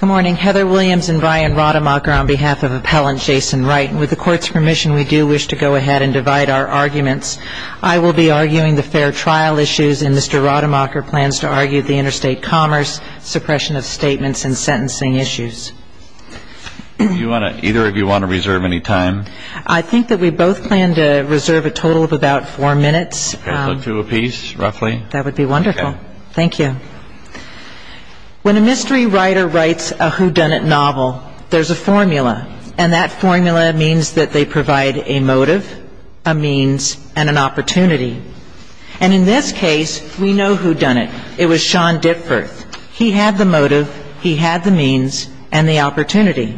Good morning, Heather Williams and Brian Rademacher on behalf of Appellant Jason Wright. With the Court's permission, we do wish to go ahead and divide our arguments. I will be arguing the fair trial issues, and Mr. Rademacher plans to argue the interstate commerce, suppression of statements, and sentencing issues. Either of you want to reserve any time? I think that we both plan to reserve a total of about four minutes. Two apiece, roughly? That would be wonderful. Thank you. When a mystery writer writes a whodunit novel, there's a formula, and that formula means that they provide a motive, a means, and an opportunity. And in this case, we know whodunit. It was Sean Ditforth. He had the motive, he had the means, and the opportunity.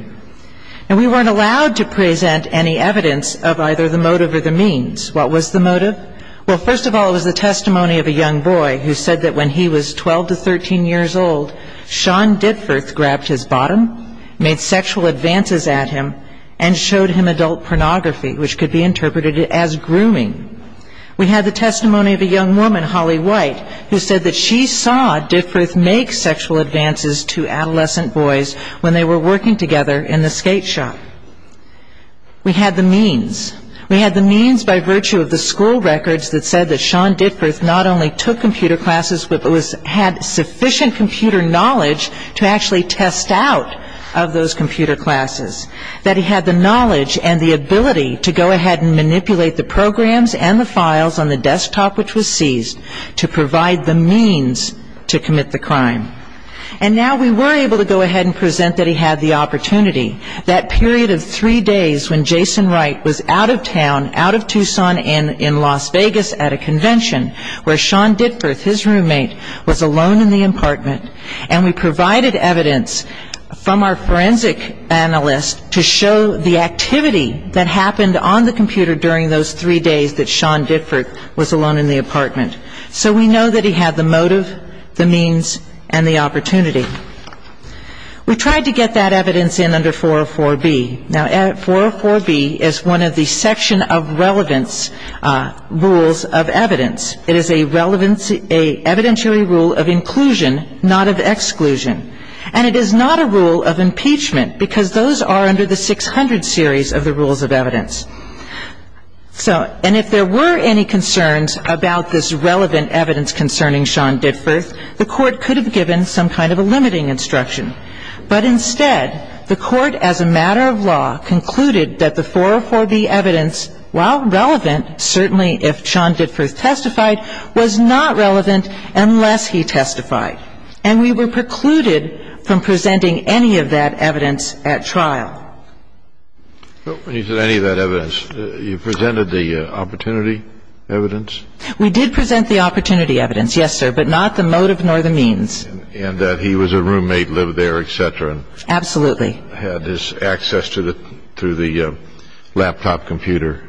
And we weren't allowed to present any evidence of either the motive or the means. What was the motive? Well, first of all, it was the testimony of a young boy who said that when he was 12 to 13 years old, Sean Ditforth grabbed his bottom, made sexual advances at him, and showed him adult pornography, which could be interpreted as grooming. We had the testimony of a young woman, Holly White, who said that she saw Ditforth make sexual advances to adolescent boys when they were working together in the skate shop. We had the means. We had the means by virtue of the school records that said that Sean Ditforth not only took computer classes, but had sufficient computer knowledge to actually test out of those computer classes, that he had the knowledge and the ability to go ahead and manipulate the programs and the files on the desktop which was seized to provide the means to commit the crime. And now we were able to go ahead and present that he had the opportunity. That period of three days when Jason Wright was out of town, out of Tucson, in Las Vegas at a convention, where Sean Ditforth, his roommate, was alone in the apartment, and we provided evidence from our forensic analyst to show the activity that happened on the computer during those three days that Sean Ditforth was alone in the apartment. So we know that he had the motive, the means, and the opportunity. We tried to get that evidence in under 404B. Now, 404B is one of the section of relevance rules of evidence. It is an evidentiary rule of inclusion, not of exclusion. And it is not a rule of impeachment, because those are under the 600 series of the rules of evidence. And if there were any concerns about this relevant evidence concerning Sean Ditforth, the Court could have given some kind of a limiting instruction. But instead, the Court, as a matter of law, concluded that the 404B evidence, while relevant, certainly if Sean Ditforth testified, was not relevant unless he testified. And we were precluded from presenting any of that evidence at trial. When you said any of that evidence, you presented the opportunity evidence? We did present the opportunity evidence, yes, sir, but not the motive nor the means. And that he was a roommate, lived there, et cetera. Absolutely. Had his access to the laptop computer,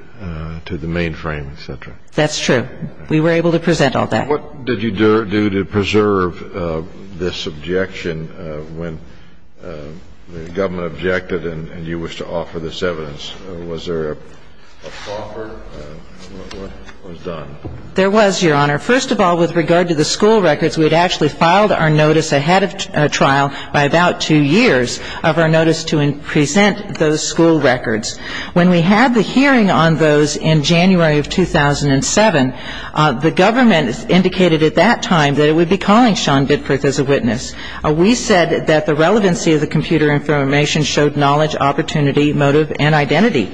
to the mainframe, et cetera. That's true. We were able to present all that. What did you do to preserve this objection when the government objected and you wished to offer this evidence? What was done? There was, Your Honor. First of all, with regard to the school records, we had actually filed our notice ahead of trial by about two years of our notice to present those school records. When we had the hearing on those in January of 2007, the government indicated at that time that it would be calling Sean Ditforth as a witness. We said that the relevancy of the computer information showed knowledge, opportunity, motive, and identity.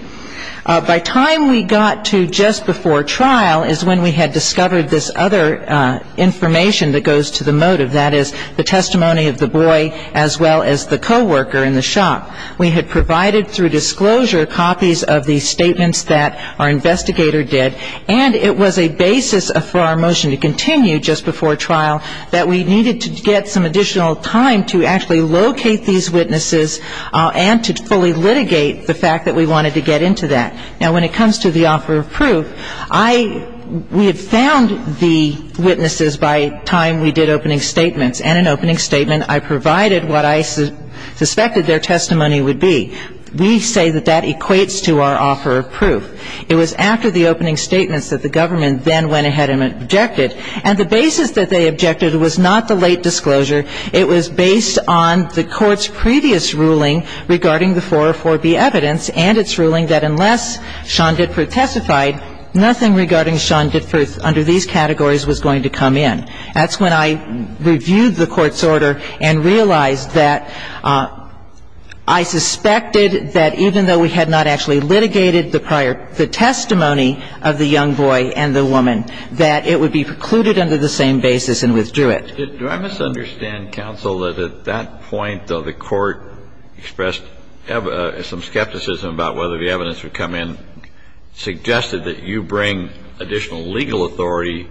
By time we got to just before trial is when we had discovered this other information that goes to the motive, that is the testimony of the boy as well as the co-worker in the shop. We had provided through disclosure copies of the statements that our investigator did, and it was a basis for our motion to continue just before trial that we needed to get some additional time to actually locate these witnesses and to fully litigate the fact that we wanted to get into that. Now, when it comes to the offer of proof, we had found the witnesses by time we did opening statements, and in an opening statement I provided what I suspected their testimony would be. We say that that equates to our offer of proof. It was after the opening statements that the government then went ahead and objected, and the basis that they objected was not the late disclosure. It was based on the Court's previous ruling regarding the 404b evidence and its ruling that unless Sean Ditford testified, nothing regarding Sean Ditford under these categories was going to come in. That's when I reviewed the Court's order and realized that I suspected that even though we had not actually litigated the prior the testimony of the young boy and the woman, that it would be precluded under the same basis and withdrew it. Kennedy. Do I misunderstand, counsel, that at that point, though, the Court expressed some skepticism about whether the evidence would come in, suggested that you bring additional legal authority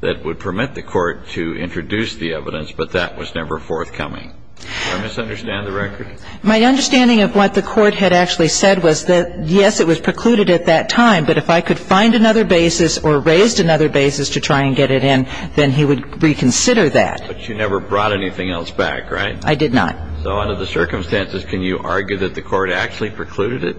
that would permit the Court to introduce the evidence, but that was never forthcoming? Do I misunderstand the record? My understanding of what the Court had actually said was that, yes, it was precluded at that time, but if I could find another basis or raised another basis to try and get it in, then he would reconsider that. But you never brought anything else back, right? I did not. So under the circumstances, can you argue that the Court actually precluded it?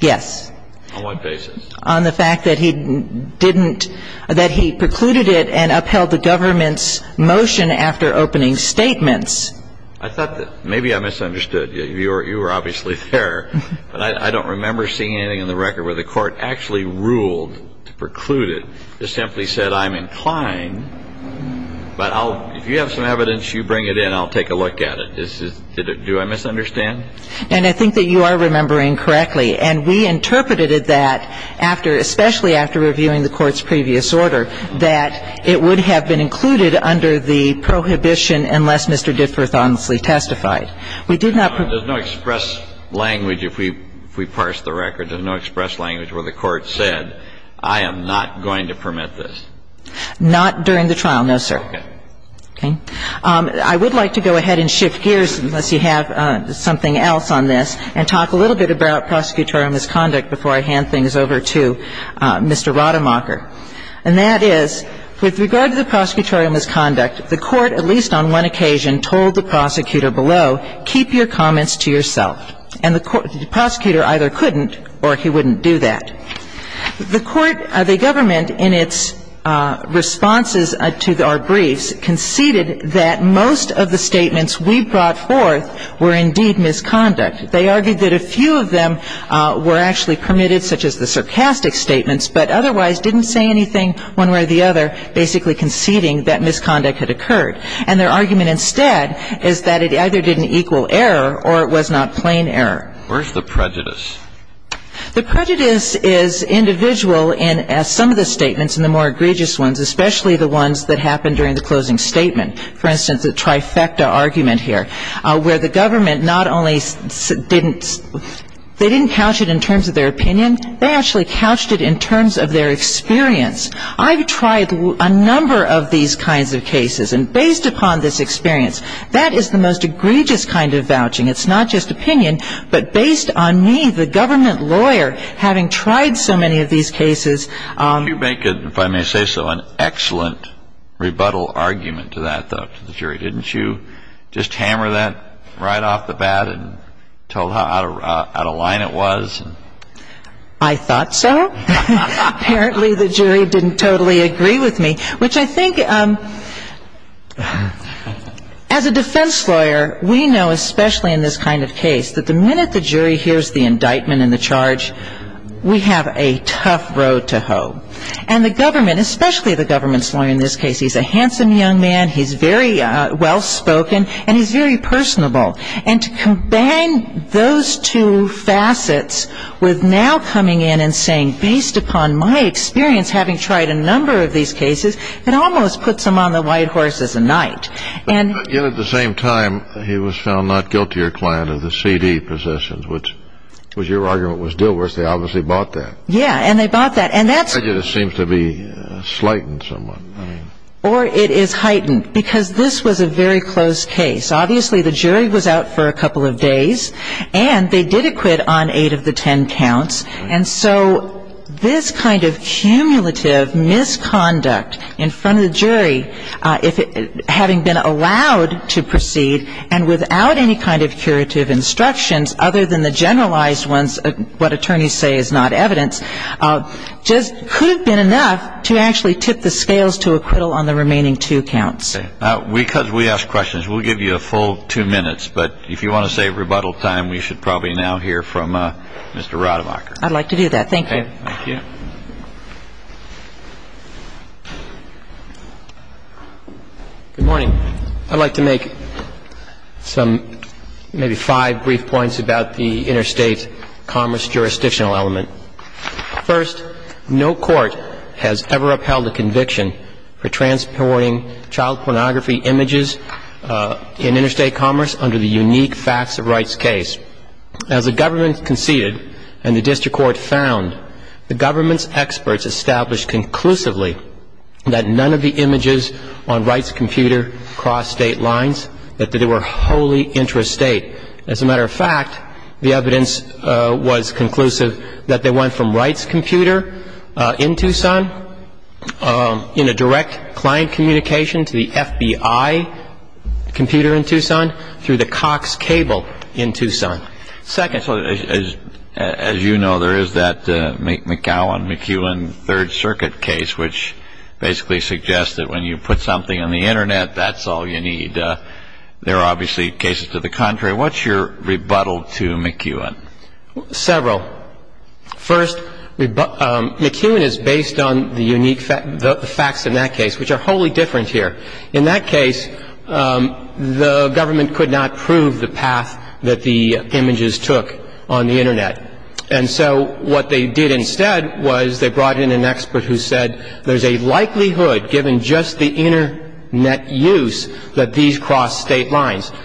Yes. On what basis? On the fact that he didn't, that he precluded it and upheld the government's motion after opening statements. I thought that maybe I misunderstood. You were obviously there. But I don't remember seeing anything in the record where the Court actually ruled to preclude it. It simply said, I'm inclined, but if you have some evidence, you bring it in, I'll take a look at it. Do I misunderstand? And I think that you are remembering correctly. And we interpreted that after, especially after reviewing the Court's previous order, that it would have been included under the prohibition unless Mr. Diffworth honestly testified. We did not prove it. There's no express language, if we parse the record, there's no express language where the Court said, I am not going to permit this. Not during the trial, no, sir. Okay. I would like to go ahead and shift gears, unless you have something else on this, and talk a little bit about prosecutorial misconduct before I hand things over to Mr. Rademacher. And that is, with regard to the prosecutorial misconduct, the Court, at least on one level, said, no, keep your comments to yourself. And the prosecutor either couldn't or he wouldn't do that. The Court, the government in its responses to our briefs conceded that most of the statements we brought forth were indeed misconduct. They argued that a few of them were actually permitted, such as the sarcastic statements, but otherwise didn't say anything one way or the other basically conceding that misconduct had occurred. And their argument instead is that it either didn't equal error or it was not plain error. Where's the prejudice? The prejudice is individual in some of the statements and the more egregious ones, especially the ones that happened during the closing statement. For instance, the trifecta argument here, where the government not only didn't they didn't couch it in terms of their opinion, they actually couched it in terms of their experience. I've tried a number of these kinds of cases and based upon this experience, that is the most egregious kind of vouching. It's not just opinion, but based on me, the government lawyer, having tried so many of these cases. You make, if I may say so, an excellent rebuttal argument to that, though, to the jury. Didn't you just hammer that right off the bat and tell how out of line it was? I thought so. Apparently the jury didn't totally agree with me, which I think as a defense lawyer, we know, especially in this kind of case, that the minute the jury hears the indictment and the charge, we have a tough road to hoe. And the government, especially the government's lawyer in this case, he's a handsome young man, he's very well spoken, and he's very personable. And to combine those two facets with now coming in and saying, based upon my experience having tried a number of these cases, it almost puts him on the white horse as a knight. But yet at the same time, he was found not guilty or client of the CD possessions, which was your argument was deal worse. They obviously bought that. Yeah, and they bought that. And that's... That just seems to be slighted somewhat. Or it is heightened, because this was a very close case. Obviously the jury was out for a couple of days, and they did acquit on eight of the ten counts. And so this kind of cumulative misconduct in front of the jury, having been allowed to proceed and without any kind of curative instructions other than the generalized ones, what attorneys say is not evidence, just could have been enough to actually tip the scales to acquittal on the remaining two counts. So I think that's the answer. Because we ask questions, we'll give you a full two minutes. But if you want to save rebuttal time, we should probably now hear from Mr. Rademacher. I'd like to do that. Thank you. Okay. Thank you. Good morning. I'd like to make some, maybe five brief points about the interstate commerce jurisdictional element. First, no court has ever upheld a conviction for transporting child pornography images in interstate commerce under the unique facts of rights case. As the government conceded and the district court found, the government's experts established conclusively that none of the images on rights computer crossed state lines, that they were wholly intrastate. As a matter of fact, the evidence was conclusive that they went from rights computer in Tucson in a direct client communication to the FBI computer in Tucson through the Cox cable in Tucson. Second. As you know, there is that McGowan-McEwen Third Circuit case, which basically suggests that when you put something on the Internet, that's all you need. And there are obviously cases to the contrary. What's your rebuttal to McEwen? Several. First, McEwen is based on the unique facts in that case, which are wholly different here. In that case, the government could not prove the path that the images took on the Internet. And so what they did instead was they brought in an expert who said, there's a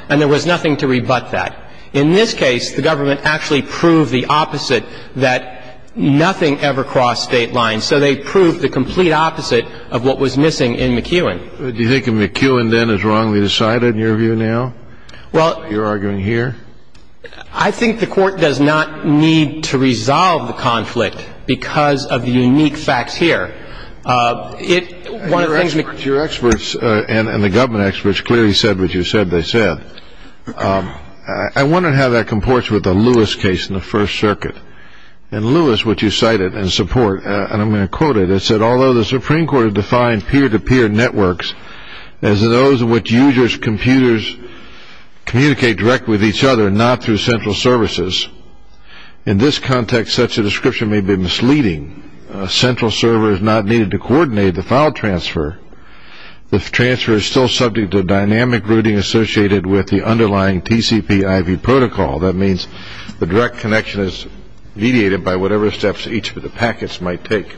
And there was nothing to rebut that. In this case, the government actually proved the opposite, that nothing ever crossed state lines. So they proved the complete opposite of what was missing in McEwen. Do you think McEwen then is wrongly decided in your view now? Well. You're arguing here. I think the Court does not need to resolve the conflict because of the unique facts here. Your experts and the government experts clearly said what you said they said. I wonder how that comports with the Lewis case in the First Circuit. In Lewis, which you cited in support, and I'm going to quote it, it said, Although the Supreme Court has defined peer-to-peer networks as those in which users' computers communicate directly with each other, not through central services. In this context, such a description may be misleading. A central server is not needed to coordinate the file transfer. The transfer is still subject to dynamic routing associated with the underlying TCP-IV protocol. That means the direct connection is mediated by whatever steps each of the packets might take.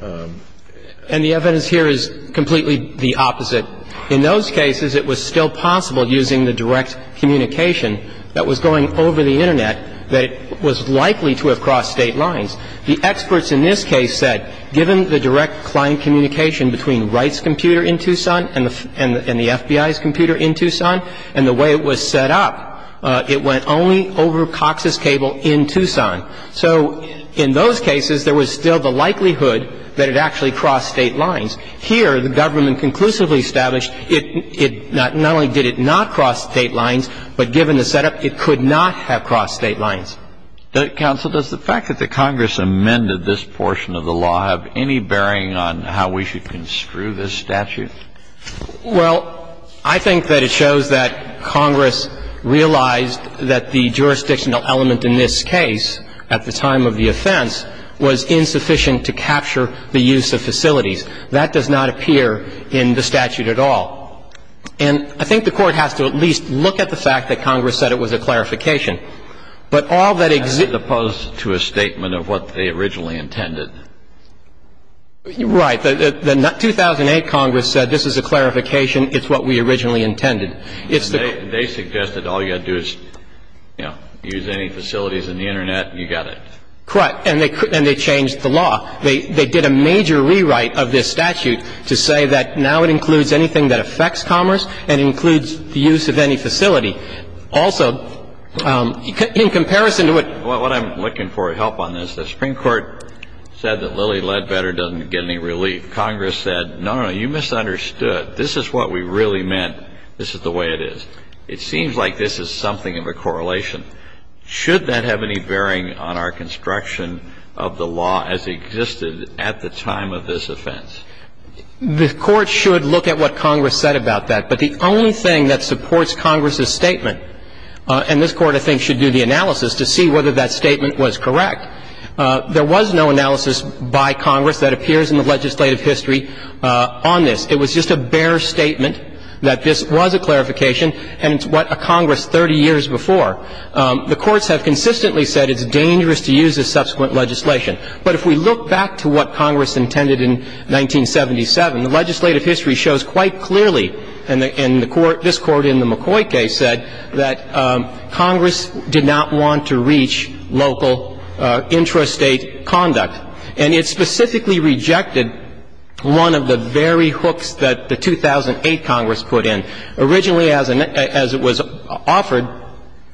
And the evidence here is completely the opposite. In those cases, it was still possible, using the direct communication that was going over the Internet, that it was likely to have crossed state lines. The experts in this case said, given the direct client communication between Wright's computer in Tucson and the FBI's computer in Tucson, and the way it was set up, it went only over Cox's Cable in Tucson. So in those cases, there was still the likelihood that it actually crossed state lines. Here, the government conclusively established it not only did it not cross state lines, but given the setup, it could not have crossed state lines. But, counsel, does the fact that the Congress amended this portion of the law have any bearing on how we should construe this statute? Well, I think that it shows that Congress realized that the jurisdictional element in this case at the time of the offense was insufficient to capture the use of facilities. That does not appear in the statute at all. And I think the Court has to at least look at the fact that Congress said it was a clarification. But all that exists — As opposed to a statement of what they originally intended. Right. The 2008 Congress said this is a clarification. It's what we originally intended. It's the — And they suggested all you got to do is, you know, use any facilities in the Internet, and you got it. Correct. And they changed the law. They did a major rewrite of this statute to say that now it includes anything that affects commerce and includes the use of any facility. Also, in comparison to what — What I'm looking for help on this, the Supreme Court said that Lilly Ledbetter doesn't get any relief. Congress said, no, no, you misunderstood. This is what we really meant. This is the way it is. It seems like this is something of a correlation. Should that have any bearing on our construction of the law as it existed at the time of this offense? The Court should look at what Congress said about that. But the only thing that supports Congress's statement, and this Court, I think, should do the analysis to see whether that statement was correct, there was no analysis by Congress that appears in the legislative history on this. It was just a bare statement that this was a clarification, and it's what a Congress 30 years before. The courts have consistently said it's dangerous to use this subsequent legislation. But if we look back to what Congress intended in 1977, the legislative history shows quite clearly, and this Court in the McCoy case said, that Congress did not want to reach local intrastate conduct. And it specifically rejected one of the very hooks that the 2008 Congress put in. Originally, as it was offered,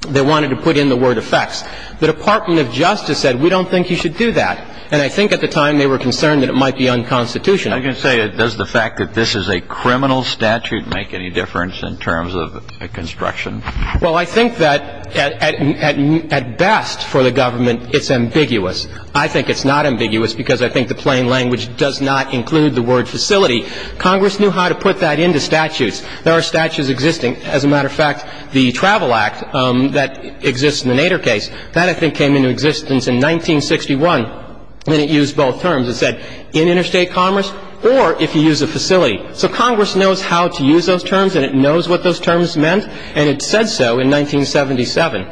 they wanted to put in the word effects. The Department of Justice said, we don't think you should do that. And I think at the time they were concerned that it might be unconstitutional. I can say, does the fact that this is a criminal statute make any difference in terms of construction? Well, I think that at best for the government, it's ambiguous. I think it's not ambiguous because I think the plain language does not include the word facility. Congress knew how to put that into statutes. There are statutes existing. As a matter of fact, the Travel Act that exists in the Nader case, that I think came into existence in 1961, and it used both terms. It said, in interstate commerce or if you use a facility. So Congress knows how to use those terms and it knows what those terms meant, and it said so in 1977.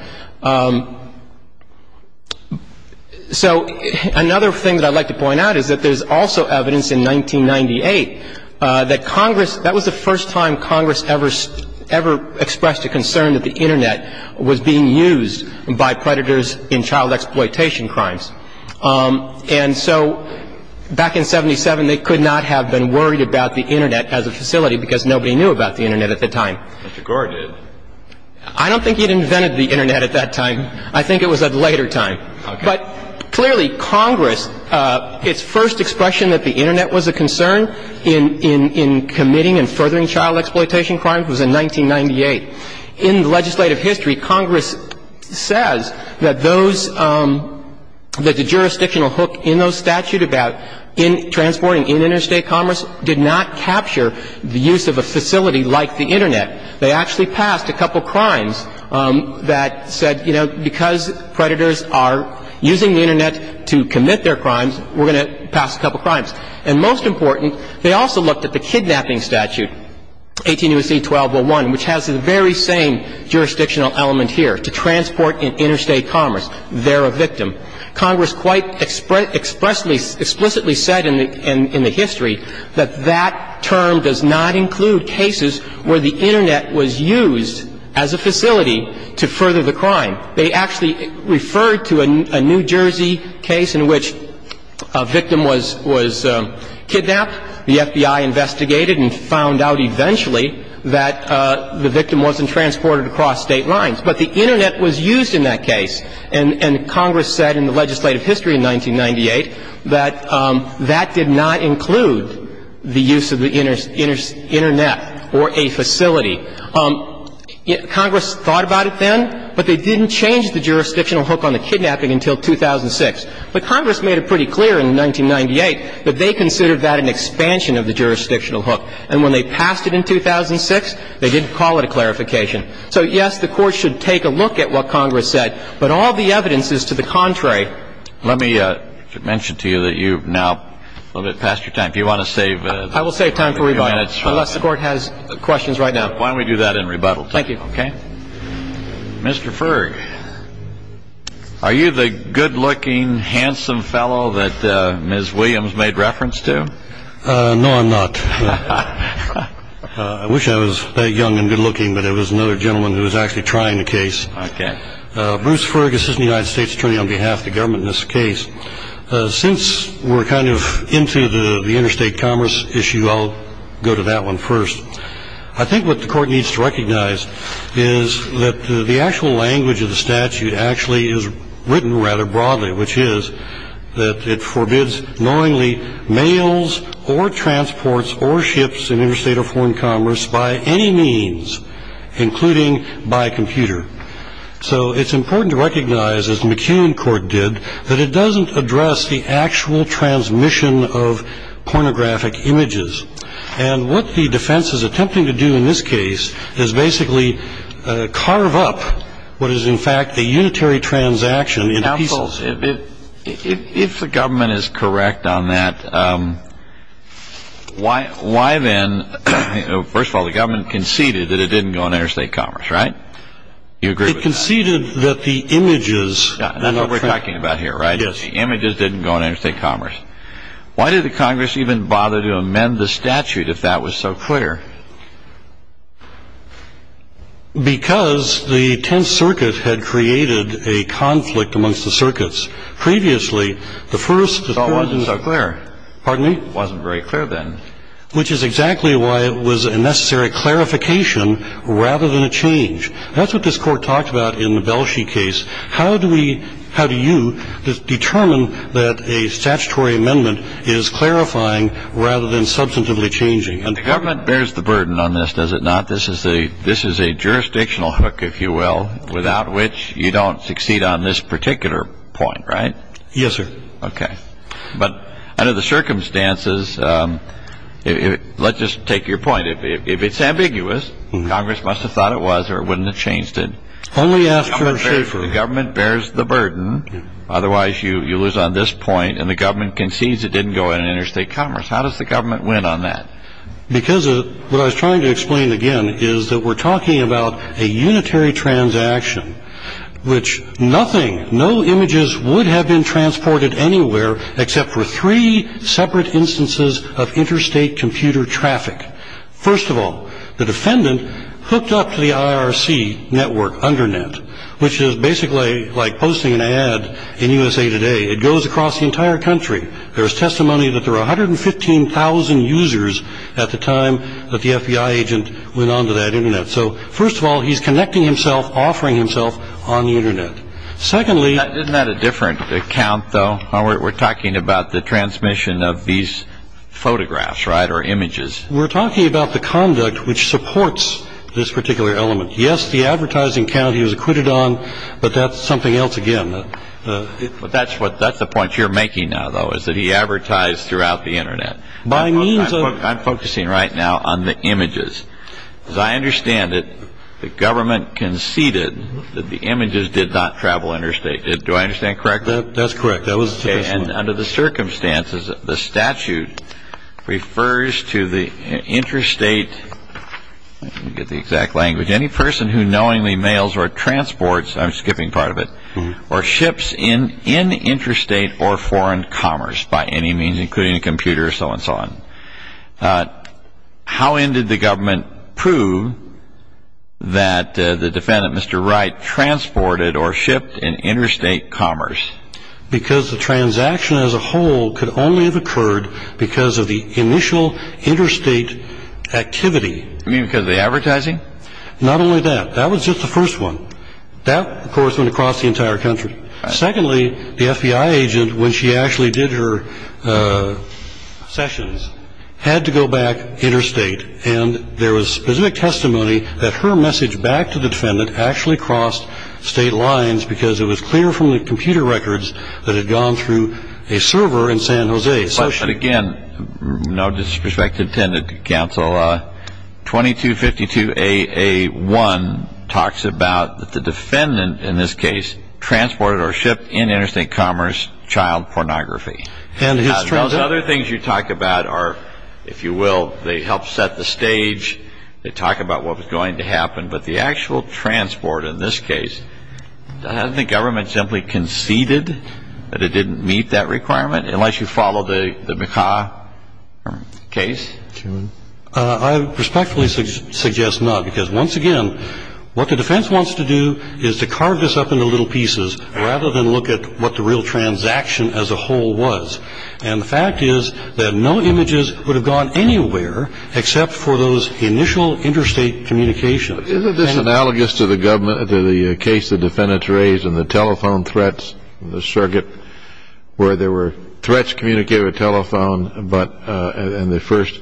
So another thing that I'd like to point out is that there's also evidence in 1998 that Congress, that was the first time Congress ever expressed a concern that the Internet was being used by predators in child exploitation crimes. And so back in 77, they could not have been worried about the Internet as a facility because nobody knew about the Internet at the time. Mr. Gore did. I don't think he'd invented the Internet at that time. I think it was at a later time. Okay. But clearly Congress, its first expression that the Internet was a concern in committing and furthering child exploitation crimes was in 1998. In legislative history, Congress says that those, that the jurisdictional hook in those statute about transporting in interstate commerce did not capture the use of a facility like the Internet. They actually passed a couple crimes that said, you know, because predators are using the Internet to commit their crimes, we're going to pass a couple crimes. And most important, they also looked at the kidnapping statute, 18 U.S.C. 1201, which has the very same jurisdictional element here, to transport in interstate commerce. They're a victim. Congress quite explicitly said in the history that that term does not include cases where the Internet was used as a facility to further the crime. They actually referred to a New Jersey case in which a victim was kidnapped. The FBI investigated and found out eventually that the victim wasn't transported across State lines, but the Internet was used in that case. And Congress said in the legislative history in 1998 that that did not include the use of the Internet or a facility. Congress thought about it then, but they didn't change the jurisdictional hook on the kidnapping until 2006. But Congress made it pretty clear in 1998 that they considered that an expansion of the jurisdictional hook. And when they passed it in 2006, they didn't call it a clarification. So, yes, the Court should take a look at what Congress said, but all the evidence is to the contrary. Let me mention to you that you've now a little bit past your time. Do you want to save a few minutes? I will save time for rebuttal, unless the Court has questions right now. Why don't we do that in rebuttal? Thank you. Okay. Mr. Ferg, are you the good-looking, handsome fellow that Ms. Williams made reference to? No, I'm not. I wish I was that young and good-looking, but it was another gentleman who was actually trying the case. Okay. Bruce Ferg, Assistant United States Attorney on behalf of the government in this case. Since we're kind of into the interstate commerce issue, I'll go to that one first. I think what the Court needs to recognize is that the actual language of the statute actually is written rather broadly, which is that it forbids knowingly mails or transports or ships in interstate or foreign commerce by any means, including by computer. So it's important to recognize, as McKeown Court did, that it doesn't address the actual transmission of pornographic images. And what the defense is attempting to do in this case is basically carve up what is in fact the unitary transaction into pieces. Counsel, if the government is correct on that, why then, first of all, the government conceded that it didn't go on interstate commerce, right? You agree with that? It conceded that the images. That's what we're talking about here, right? Yes. The images didn't go on interstate commerce. Why did the Congress even bother to amend the statute if that was so clear? Because the Tenth Circuit had created a conflict amongst the circuits. Previously, the first. It wasn't so clear. Pardon me? It wasn't very clear then. Which is exactly why it was a necessary clarification rather than a change. That's what this Court talked about in the Belshi case. How do you determine that a statutory amendment is clarifying rather than substantively changing? The government bears the burden on this, does it not? This is a jurisdictional hook, if you will, without which you don't succeed on this particular point, right? Yes, sir. Okay. But under the circumstances, let's just take your point. If it's ambiguous, Congress must have thought it was or wouldn't have changed it. The government bears the burden, otherwise you lose on this point, and the government concedes it didn't go on interstate commerce. How does the government win on that? Because what I was trying to explain again is that we're talking about a unitary transaction, which nothing, no images would have been transported anywhere except for three separate instances of interstate computer traffic. First of all, the defendant hooked up to the IRC network, Undernet, which is basically like posting an ad in USA Today. It goes across the entire country. There's testimony that there were 115,000 users at the time that the FBI agent went onto that Internet. So first of all, he's connecting himself, offering himself on the Internet. Secondly... Isn't that a different account, though? We're talking about the transmission of these photographs, right, or images. We're talking about the conduct which supports this particular element. Yes, the advertising account he was acquitted on, but that's something else again. But that's the point you're making now, though, is that he advertised throughout the Internet. By means of... I'm focusing right now on the images. As I understand it, the government conceded that the images did not travel interstate. Do I understand correctly? That's correct. Under the circumstances, the statute refers to the interstate... I can't get the exact language. Any person who knowingly mails or transports... I'm skipping part of it. Or ships in interstate or foreign commerce by any means, including a computer, so on and so on. How then did the government prove that the defendant, Mr. Wright, transported or shipped in interstate commerce? Because the transaction as a whole could only have occurred because of the initial interstate activity. You mean because of the advertising? Not only that. That was just the first one. That, of course, went across the entire country. Secondly, the FBI agent, when she actually did her sessions, had to go back interstate. And there was specific testimony that her message back to the defendant actually crossed state lines because it was clear from the computer records that it had gone through a server in San Jose. Again, no disrespect intended, counsel. 2252AA1 talks about the defendant, in this case, transported or shipped in interstate commerce child pornography. Those other things you talk about are, if you will, they help set the stage. They talk about what was going to happen. But the actual transport in this case, Hasn't the government simply conceded that it didn't meet that requirement, unless you follow the McCaw case? I respectfully suggest not. Because, once again, what the defense wants to do is to carve this up into little pieces rather than look at what the real transaction as a whole was. And the fact is that no images would have gone anywhere except for those initial interstate communications. Isn't this analogous to the case the defendants raised in the telephone threats in the circuit where there were threats communicated by telephone, and the first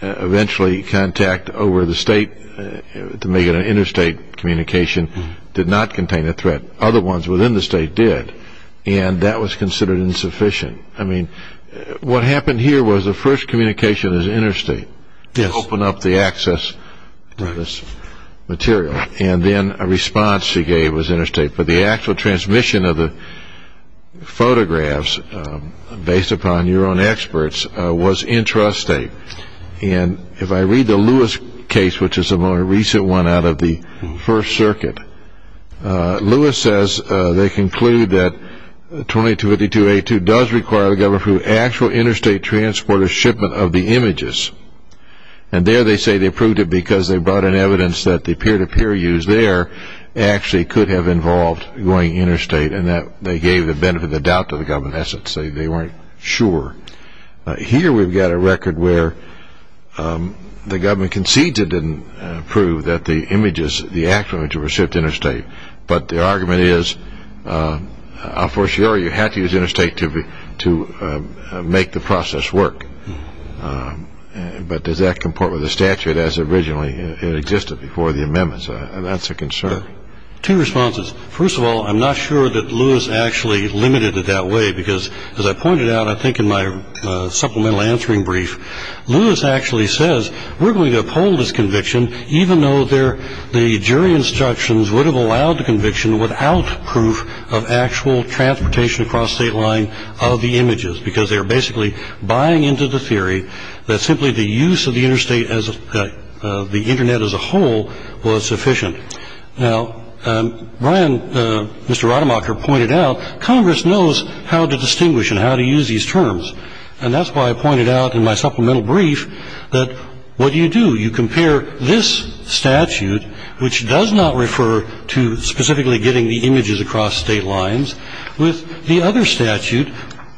eventually contact over the state to make it an interstate communication did not contain a threat. Other ones within the state did. And that was considered insufficient. What happened here was the first communication was interstate to open up the access to this material. And then a response he gave was interstate. But the actual transmission of the photographs, based upon your own experts, was intrastate. And if I read the Lewis case, which is the more recent one out of the First Circuit, Lewis says they conclude that 2252A2 does require the government to approve actual interstate transporter shipment of the images. And there they say they approved it because they brought in evidence that the peer-to-peer use there actually could have involved going interstate, and that they gave the benefit of the doubt to the government. In essence, they weren't sure. Here we've got a record where the government conceded and proved that the images, the actual images were shipped interstate. But the argument is, of course, you had to use interstate to make the process work. But does that comport with the statute as it originally existed before the amendments? That's a concern. Two responses. First of all, I'm not sure that Lewis actually limited it that way because, as I pointed out, I think in my supplemental answering brief, Lewis actually says we're going to uphold his conviction, even though the jury instructions would have allowed the conviction without proof of actual transportation across state line of the images because they were basically buying into the theory that simply the use of the interstate, the Internet as a whole, was sufficient. Now, Brian, Mr. Rademacher, pointed out, Congress knows how to distinguish and how to use these terms. And that's why I pointed out in my supplemental brief that what do you do? You compare this statute, which does not refer to specifically getting the images across state lines, with the other statute,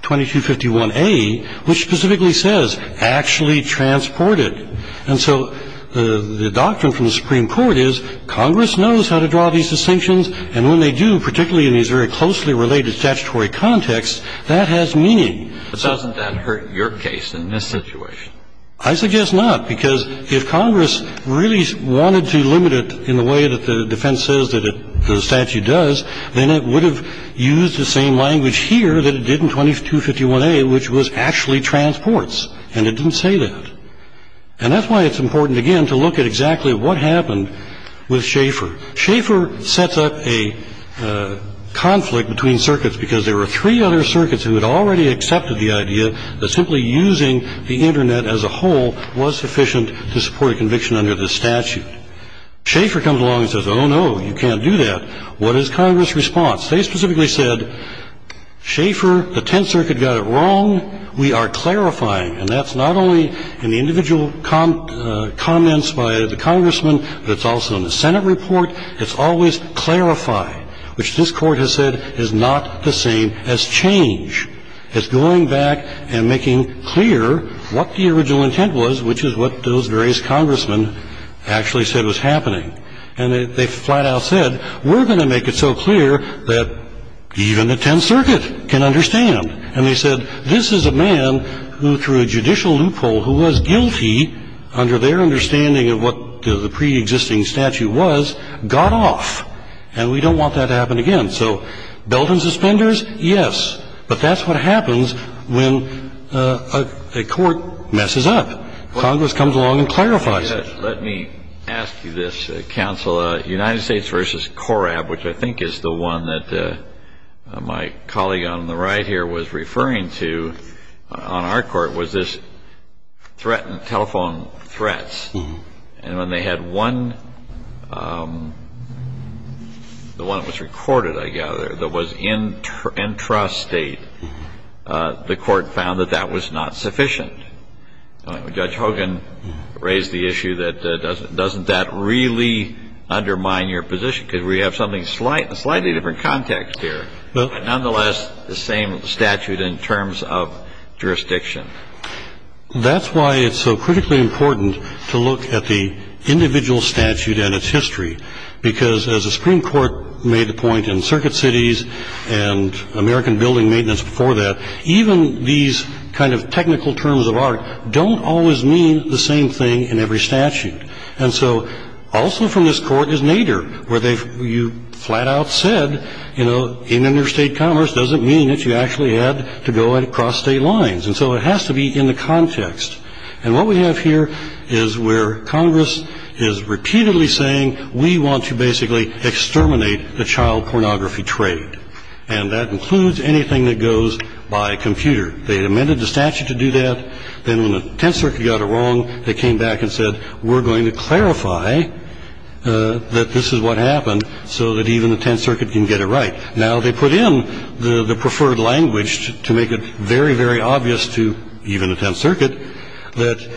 2251A, which specifically says actually transported. And so the doctrine from the Supreme Court is Congress knows how to draw these distinctions, and when they do, particularly in these very closely related statutory contexts, that has meaning. But doesn't that hurt your case in this situation? I suggest not, because if Congress really wanted to limit it in the way that the defense says that the statute does, then it would have used the same language here that it did in 2251A, which was actually transports. And it didn't say that. And that's why it's important, again, to look at exactly what happened with Schaeffer. Schaeffer sets up a conflict between circuits because there were three other circuits who had already accepted the idea that simply using the Internet as a whole was sufficient to support a conviction under this statute. Schaeffer comes along and says, oh, no, you can't do that. What is Congress' response? They specifically said, Schaeffer, the Tenth Circuit got it wrong. We are clarifying. And that's not only in the individual comments by the Congressman, but it's also in the Senate report. It's always clarified, which this Court has said is not the same as change, as going back and making clear what the original intent was, which is what those various Congressmen actually said was happening. And they flat out said, we're going to make it so clear that even the Tenth Circuit can understand. And they said, this is a man who, through a judicial loophole, who was guilty under their understanding of what the preexisting statute was, got off. And we don't want that to happen again. So belt and suspenders, yes. But that's what happens when a court messes up. Congress comes along and clarifies it. Let me ask you this, counsel. United States v. Corab, which I think is the one that my colleague on the right here was referring to on our court, was this threat and telephone threats. And when they had one, the one that was recorded, I gather, that was intrastate, the court found that that was not sufficient. Judge Hogan raised the issue that doesn't that really undermine your position? Because we have something slightly different context here. But nonetheless, the same statute in terms of jurisdiction. That's why it's so critically important to look at the individual statute and its history. Because as the Supreme Court made the point in circuit cities and American building maintenance before that, even these kind of technical terms of art don't always mean the same thing in every statute. And so also from this court is Nader, where you flat out said, you know, interstate commerce doesn't mean that you actually had to go across state lines. And so it has to be in the context. And what we have here is where Congress is repeatedly saying, we want to basically exterminate the child pornography trade. And that includes anything that goes by computer. They amended the statute to do that. Then when the Tenth Circuit got it wrong, they came back and said, we're going to clarify that this is what happened so that even the Tenth Circuit can get it right. Now they put in the preferred language to make it very, very obvious to even the Tenth Circuit that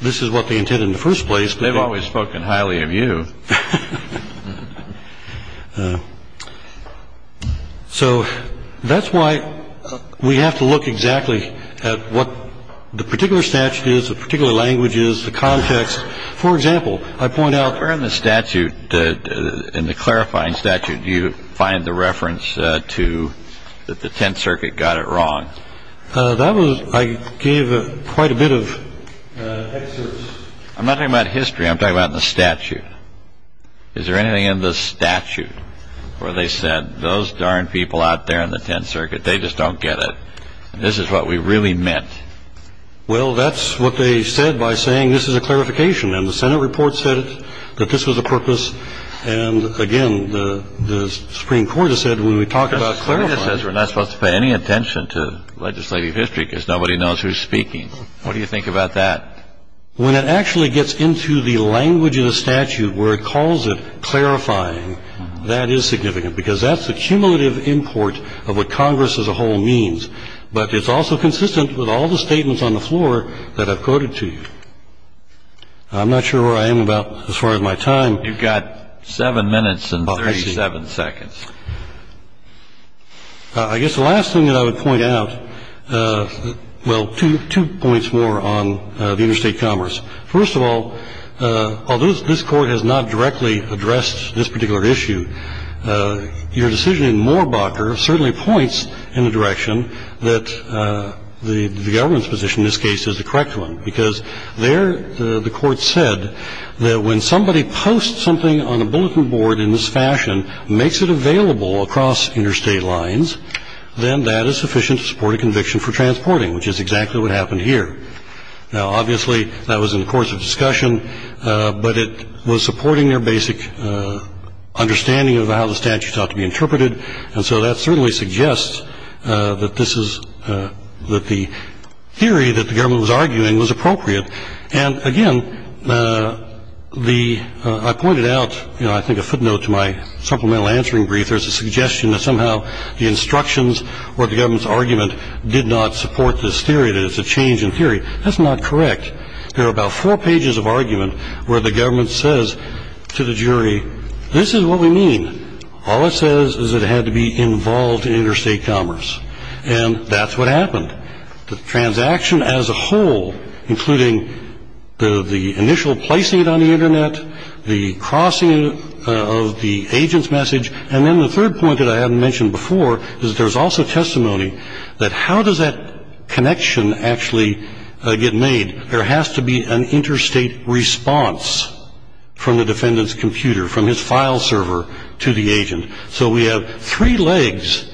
this is what they intended in the first place. They've always spoken highly of you. So that's why we have to look exactly at what the particular statute is, the particular languages, the context. For example, I point out the statute in the clarifying statute. You find the reference to the Tenth Circuit got it wrong. That was I gave quite a bit of. I'm not talking about history. I'm talking about the statute. Is there anything in the statute where they said those darn people out there in the Tenth Circuit, they just don't get it. This is what we really meant. Well, that's what they said by saying this is a clarification. And the Senate report said that this was a purpose. And again, the Supreme Court has said when we talk about clarifying. We're not supposed to pay any attention to legislative history because nobody knows who's speaking. What do you think about that? When it actually gets into the language of the statute where it calls it clarifying, that is significant because that's the cumulative import of what Congress as a whole means. But it's also consistent with all the statements on the floor that I've quoted to you. I'm not sure where I am about as far as my time. You've got seven minutes and 37 seconds. I guess the last thing that I would point out, well, two points more on the interstate commerce. First of all, although this Court has not directly addressed this particular issue, your decision in Moorbacher certainly points in the direction that the government's position in this case is the correct one, because there the Court said that when somebody posts something on a bulletin board in this fashion, makes it available across interstate lines, then that is sufficient to support a conviction for transporting, which is exactly what happened here. Now, obviously, that was in the course of discussion, but it was supporting their basic understanding of how the statute ought to be interpreted. And so that certainly suggests that the theory that the government was arguing was appropriate. And, again, I pointed out, I think, a footnote to my supplemental answering brief. There's a suggestion that somehow the instructions or the government's argument did not support this theory, that it's a change in theory. That's not correct. There are about four pages of argument where the government says to the jury, this is what we mean. All it says is it had to be involved in interstate commerce. And that's what happened. The transaction as a whole, including the initial placing it on the Internet, the crossing of the agent's message, and then the third point that I haven't mentioned before is there's also testimony that how does that connection actually get made? There has to be an interstate response from the defendant's computer, from his file server to the agent. So we have three legs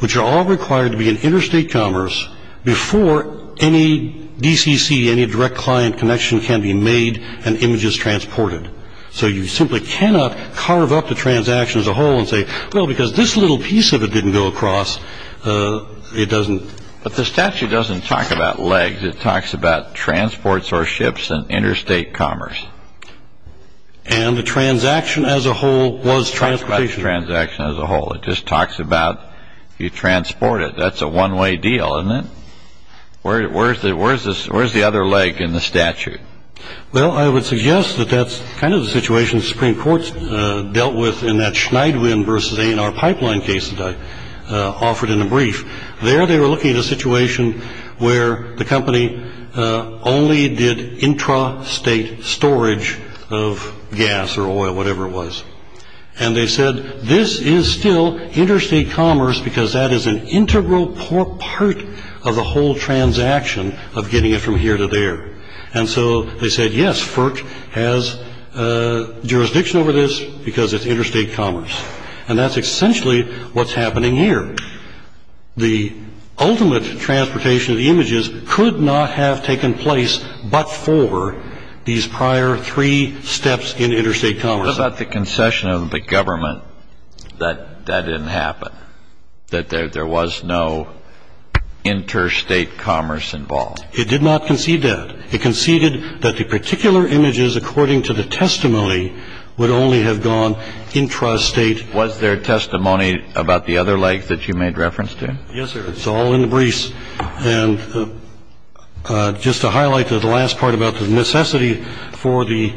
which are all required to be in interstate commerce before any DCC, any direct client connection can be made and images transported. So you simply cannot carve up the transaction as a whole and say, well, because this little piece of it didn't go across, it doesn't. But the statute doesn't talk about legs. It talks about transports or ships and interstate commerce. And the transaction as a whole was transportation. Transaction as a whole. It just talks about you transport it. That's a one way deal, isn't it? Where is it? Where is this? Where's the other leg in the statute? Well, I would suggest that that's kind of the situation the Supreme Court dealt with in that Schneidwin versus A&R pipeline case that I offered in a brief. There they were looking at a situation where the company only did intrastate storage of gas or oil, whatever it was. And they said this is still interstate commerce because that is an integral part of the whole transaction of getting it from here to there. And so they said, yes, FERC has jurisdiction over this because it's interstate commerce. And that's essentially what's happening here. The ultimate transportation of the images could not have taken place but for these prior three steps in interstate commerce. What about the concession of the government that that didn't happen, that there was no interstate commerce involved? It did not concede that. It conceded that the particular images, according to the testimony, would only have gone intrastate. Was there testimony about the other legs that you made reference to? Yes, sir. It's all in the briefs. And just to highlight the last part about the necessity for the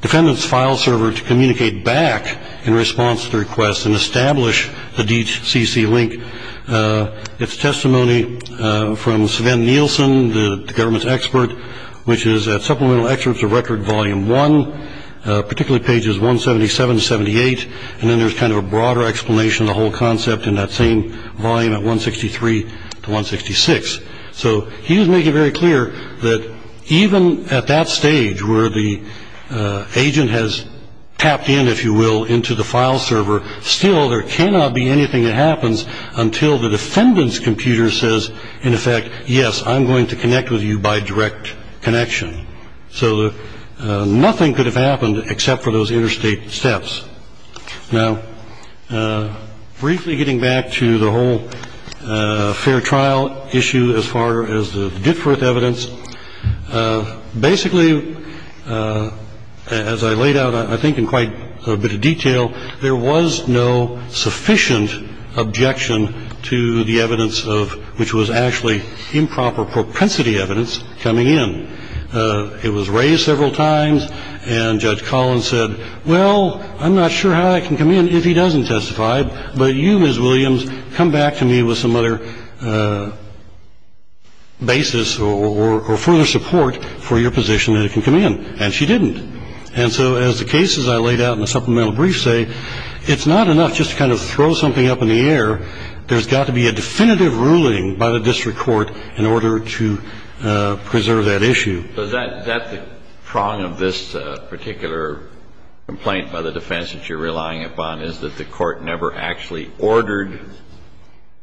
defendant's file server to communicate back in response to the request and establish the DCC link, it's testimony from Sven Nielsen, the government's expert, which is at supplemental excerpts of record volume one, particularly pages 177, 78. And then there's kind of a broader explanation of the whole concept in that same volume at 163 to 166. So he was making very clear that even at that stage where the agent has tapped in, if you will, into the file server, still there cannot be anything that happens until the defendant's computer says, in effect, yes, I'm going to connect with you by direct connection. So nothing could have happened except for those interstate steps. Now, briefly getting back to the whole fair trial issue as far as the difference evidence, basically, as I laid out, I think, in quite a bit of detail, there was no sufficient objection to the evidence of which was actually improper propensity evidence coming in. It was raised several times. And Judge Collins said, well, I'm not sure how I can come in if he doesn't testify. But you, Ms. Williams, come back to me with some other basis or further support for your position that it can come in. And she didn't. And so as the cases I laid out in the supplemental brief say, it's not enough just to kind of throw something up in the air. There's got to be a definitive ruling by the district court in order to preserve that issue. Is that the prong of this particular complaint by the defense that you're relying upon, is that the court never actually ordered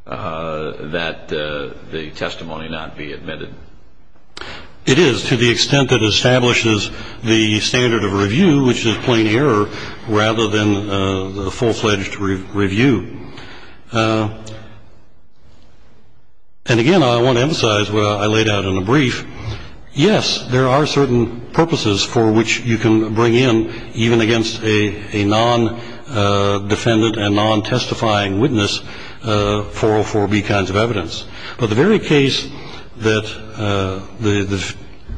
that the testimony not be admitted? It is, to the extent that it establishes the standard of review, which is plain error rather than the full-fledged review. And again, I want to emphasize what I laid out in the brief. Yes, there are certain purposes for which you can bring in, even against a non-defendant and non-testifying witness, 404B kinds of evidence. But the very case that the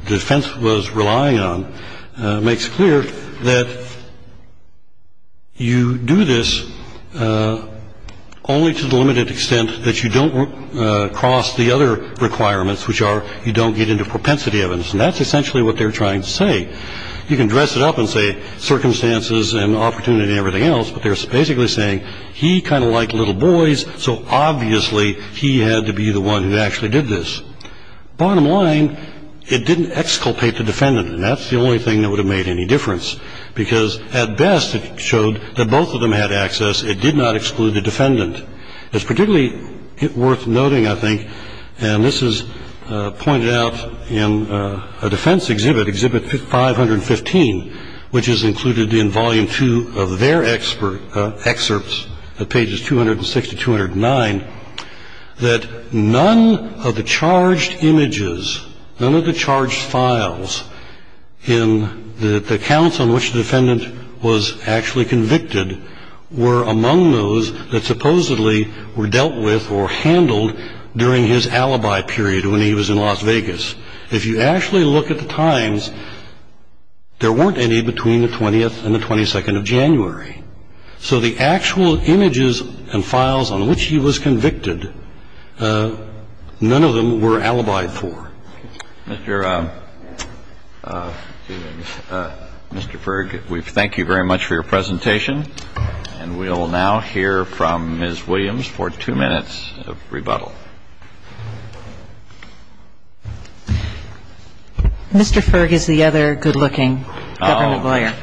defense was relying on makes clear that you do this only to the limited extent that you don't cross the other requirements, which are you don't get into propensity evidence. And that's essentially what they're trying to say. You can dress it up and say circumstances and opportunity and everything else, but they're basically saying he kind of liked little boys, so obviously he had to be the one who actually did this. Bottom line, it didn't exculpate the defendant, and that's the only thing that would have made any difference, because at best it showed that both of them had access. It did not exclude the defendant. It's particularly worth noting, I think, and this is pointed out in a defense exhibit, Exhibit 515, which is included in Volume 2 of their excerpts, pages 260 to 209, that none of the charged images, none of the charged files in the accounts on which the defendant was actually convicted were among those that supposedly were dealt with or handled during his alibi period when he was in Las Vegas. If you actually look at the times, there weren't any between the 20th and the 22nd of January. So the actual images and files on which he was convicted, none of them were alibied for. Mr. Ferg, we thank you very much for your presentation. And we'll now hear from Ms. Williams for two minutes of rebuttal. Mr. Ferg is the other good-looking government lawyer.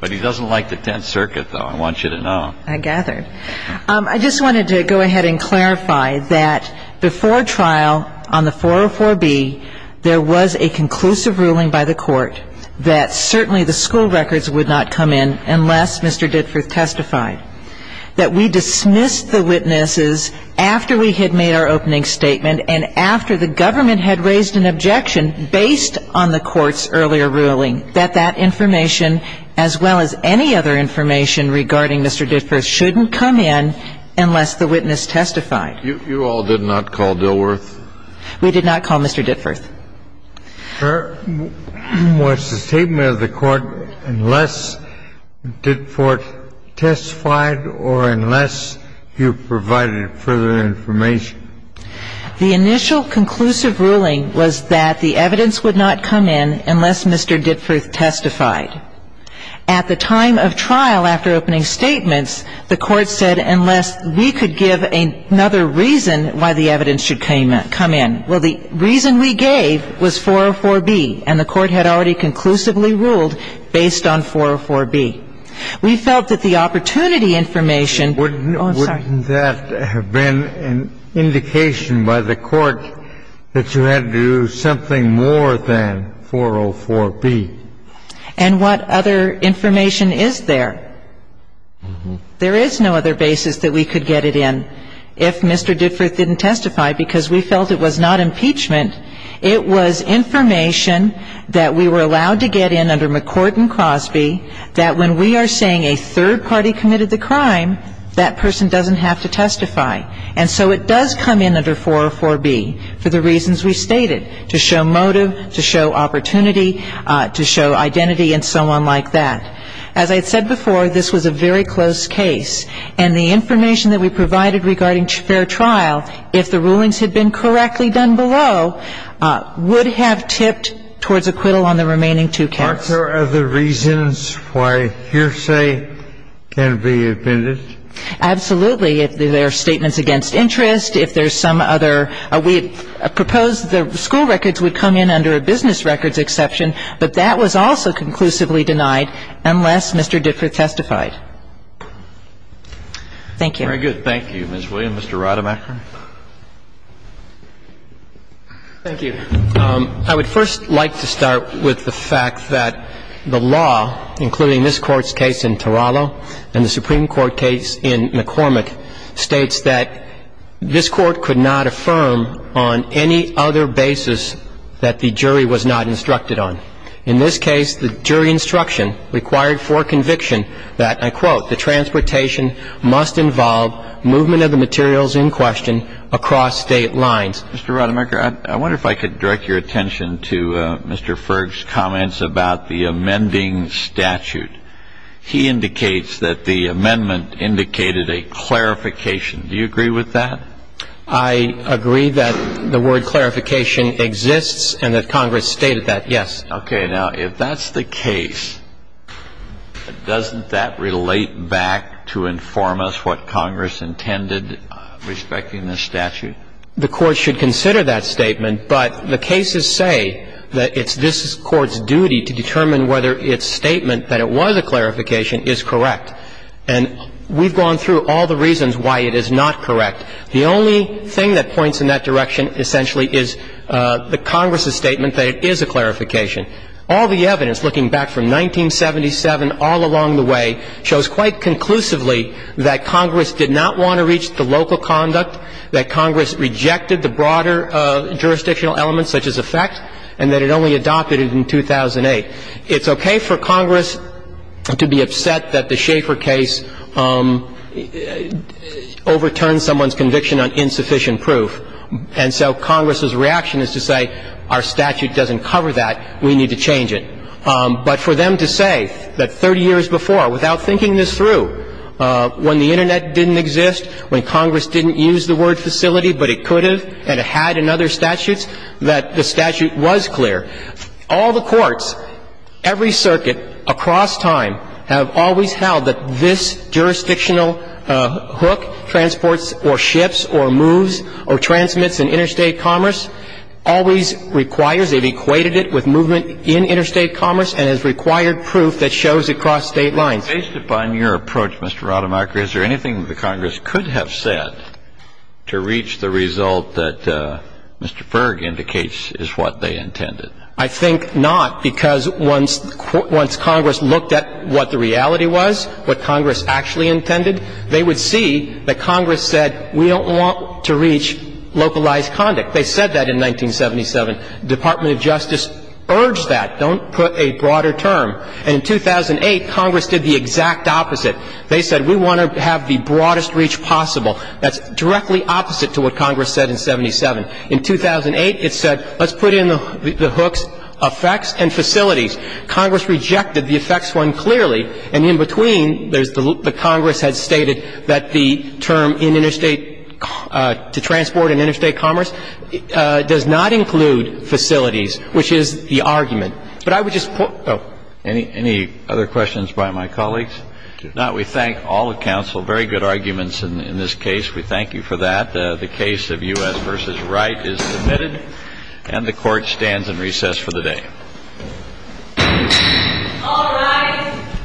But he doesn't like the Tenth Circuit, though. I want you to know. I gathered. I just wanted to go ahead and clarify that before trial on the 404B, there was a conclusive ruling by the Court that certainly the school records would not come in unless Mr. Ditford testified, that we dismissed the witnesses after we had made our opening statement and after the government had raised an objection based on the Court's earlier ruling, that that information, as well as any other information regarding Mr. Ditford, shouldn't come in unless the witness testified. You all did not call Dilworth? We did not call Mr. Ditford. The initial conclusive ruling was that the evidence would not come in unless Mr. Ditford testified. At the time of trial, after opening statements, the Court said unless we could give another reason why the evidence should come in. Well, the reason we gave was that the evidence would not come in unless Mr. Ditford testified. The reason we gave was 404B, and the Court had already conclusively ruled based on 404B. We felt that the opportunity information ---- Wouldn't that have been an indication by the Court that you had to do something more than 404B? And what other information is there? There is no other basis that we could get it in if Mr. Ditford didn't testify because we felt it was not impeachment. It was information that we were allowed to get in under McCourt and Crosby, that when we are saying a third party committed the crime, that person doesn't have to testify. And so it does come in under 404B for the reasons we stated, to show motive, to show opportunity, to show identity and so on like that. As I said before, this was a very close case. And the information that we provided regarding fair trial, if the rulings had been correctly done below, would have tipped towards acquittal on the remaining two counts. Aren't there other reasons why hearsay can be admitted? Absolutely. If there are statements against interest, if there's some other ---- we proposed the school records would come in under a business records exception, but that was also conclusively denied. Unless Mr. Ditford testified. Thank you. Very good. Thank you, Ms. Williams. Mr. Rademacher. Thank you. I would first like to start with the fact that the law, including this Court's case in Teralo and the Supreme Court case in McCormick, states that this Court could not affirm on any other basis that the jury was not instructed on. In this case, the jury instruction required for conviction that, I quote, the transportation must involve movement of the materials in question across State lines. Mr. Rademacher, I wonder if I could direct your attention to Mr. Ferg's comments about the amending statute. He indicates that the amendment indicated a clarification. Do you agree with that? I agree that the word clarification exists and that Congress stated that, yes. Okay. Now, if that's the case, doesn't that relate back to inform us what Congress intended respecting this statute? The Court should consider that statement, but the cases say that it's this Court's duty to determine whether its statement that it was a clarification is correct. And we've gone through all the reasons why it is not correct. The only thing that points in that direction, essentially, is the Congress's statement that it is a clarification. All the evidence, looking back from 1977 all along the way, shows quite conclusively that Congress did not want to reach the local conduct, that Congress rejected the broader jurisdictional elements such as effect, and that it only adopted it in 2008. It's okay for Congress to be upset that the Schaefer case overturned someone's conviction on insufficient proof. And so Congress's reaction is to say, our statute doesn't cover that. We need to change it. But for them to say that 30 years before, without thinking this through, when the Internet didn't exist, when Congress didn't use the word facility, but it could have and it had in other statutes, that the statute was clear. All the courts, every circuit across time, have always held that this jurisdictional hook, transports or ships or moves or transmits in interstate commerce, always requires, they've equated it with movement in interstate commerce and has required proof that shows across state lines. Kennedy. Based upon your approach, Mr. Rademacher, is there anything that the Congress could have said to reach the result that Mr. Berg indicates is what they intended? I think not, because once Congress looked at what the reality was, what Congress actually intended, they would see that Congress said, we don't want to reach localized conduct. They said that in 1977. Department of Justice urged that. Don't put a broader term. And in 2008, Congress did the exact opposite. They said, we want to have the broadest reach possible. That's directly opposite to what Congress said in 77. In 2008, it said, let's put in the hooks effects and facilities. Congress rejected the effects one clearly. And in between, the Congress has stated that the term in interstate, to transport in interstate commerce, does not include facilities, which is the argument. But I would just point out. Any other questions by my colleagues? If not, we thank all of counsel. Very good arguments in this case. We thank you for that. The case of U.S. v. Wright is submitted. And the Court stands in recess for the day. All rise.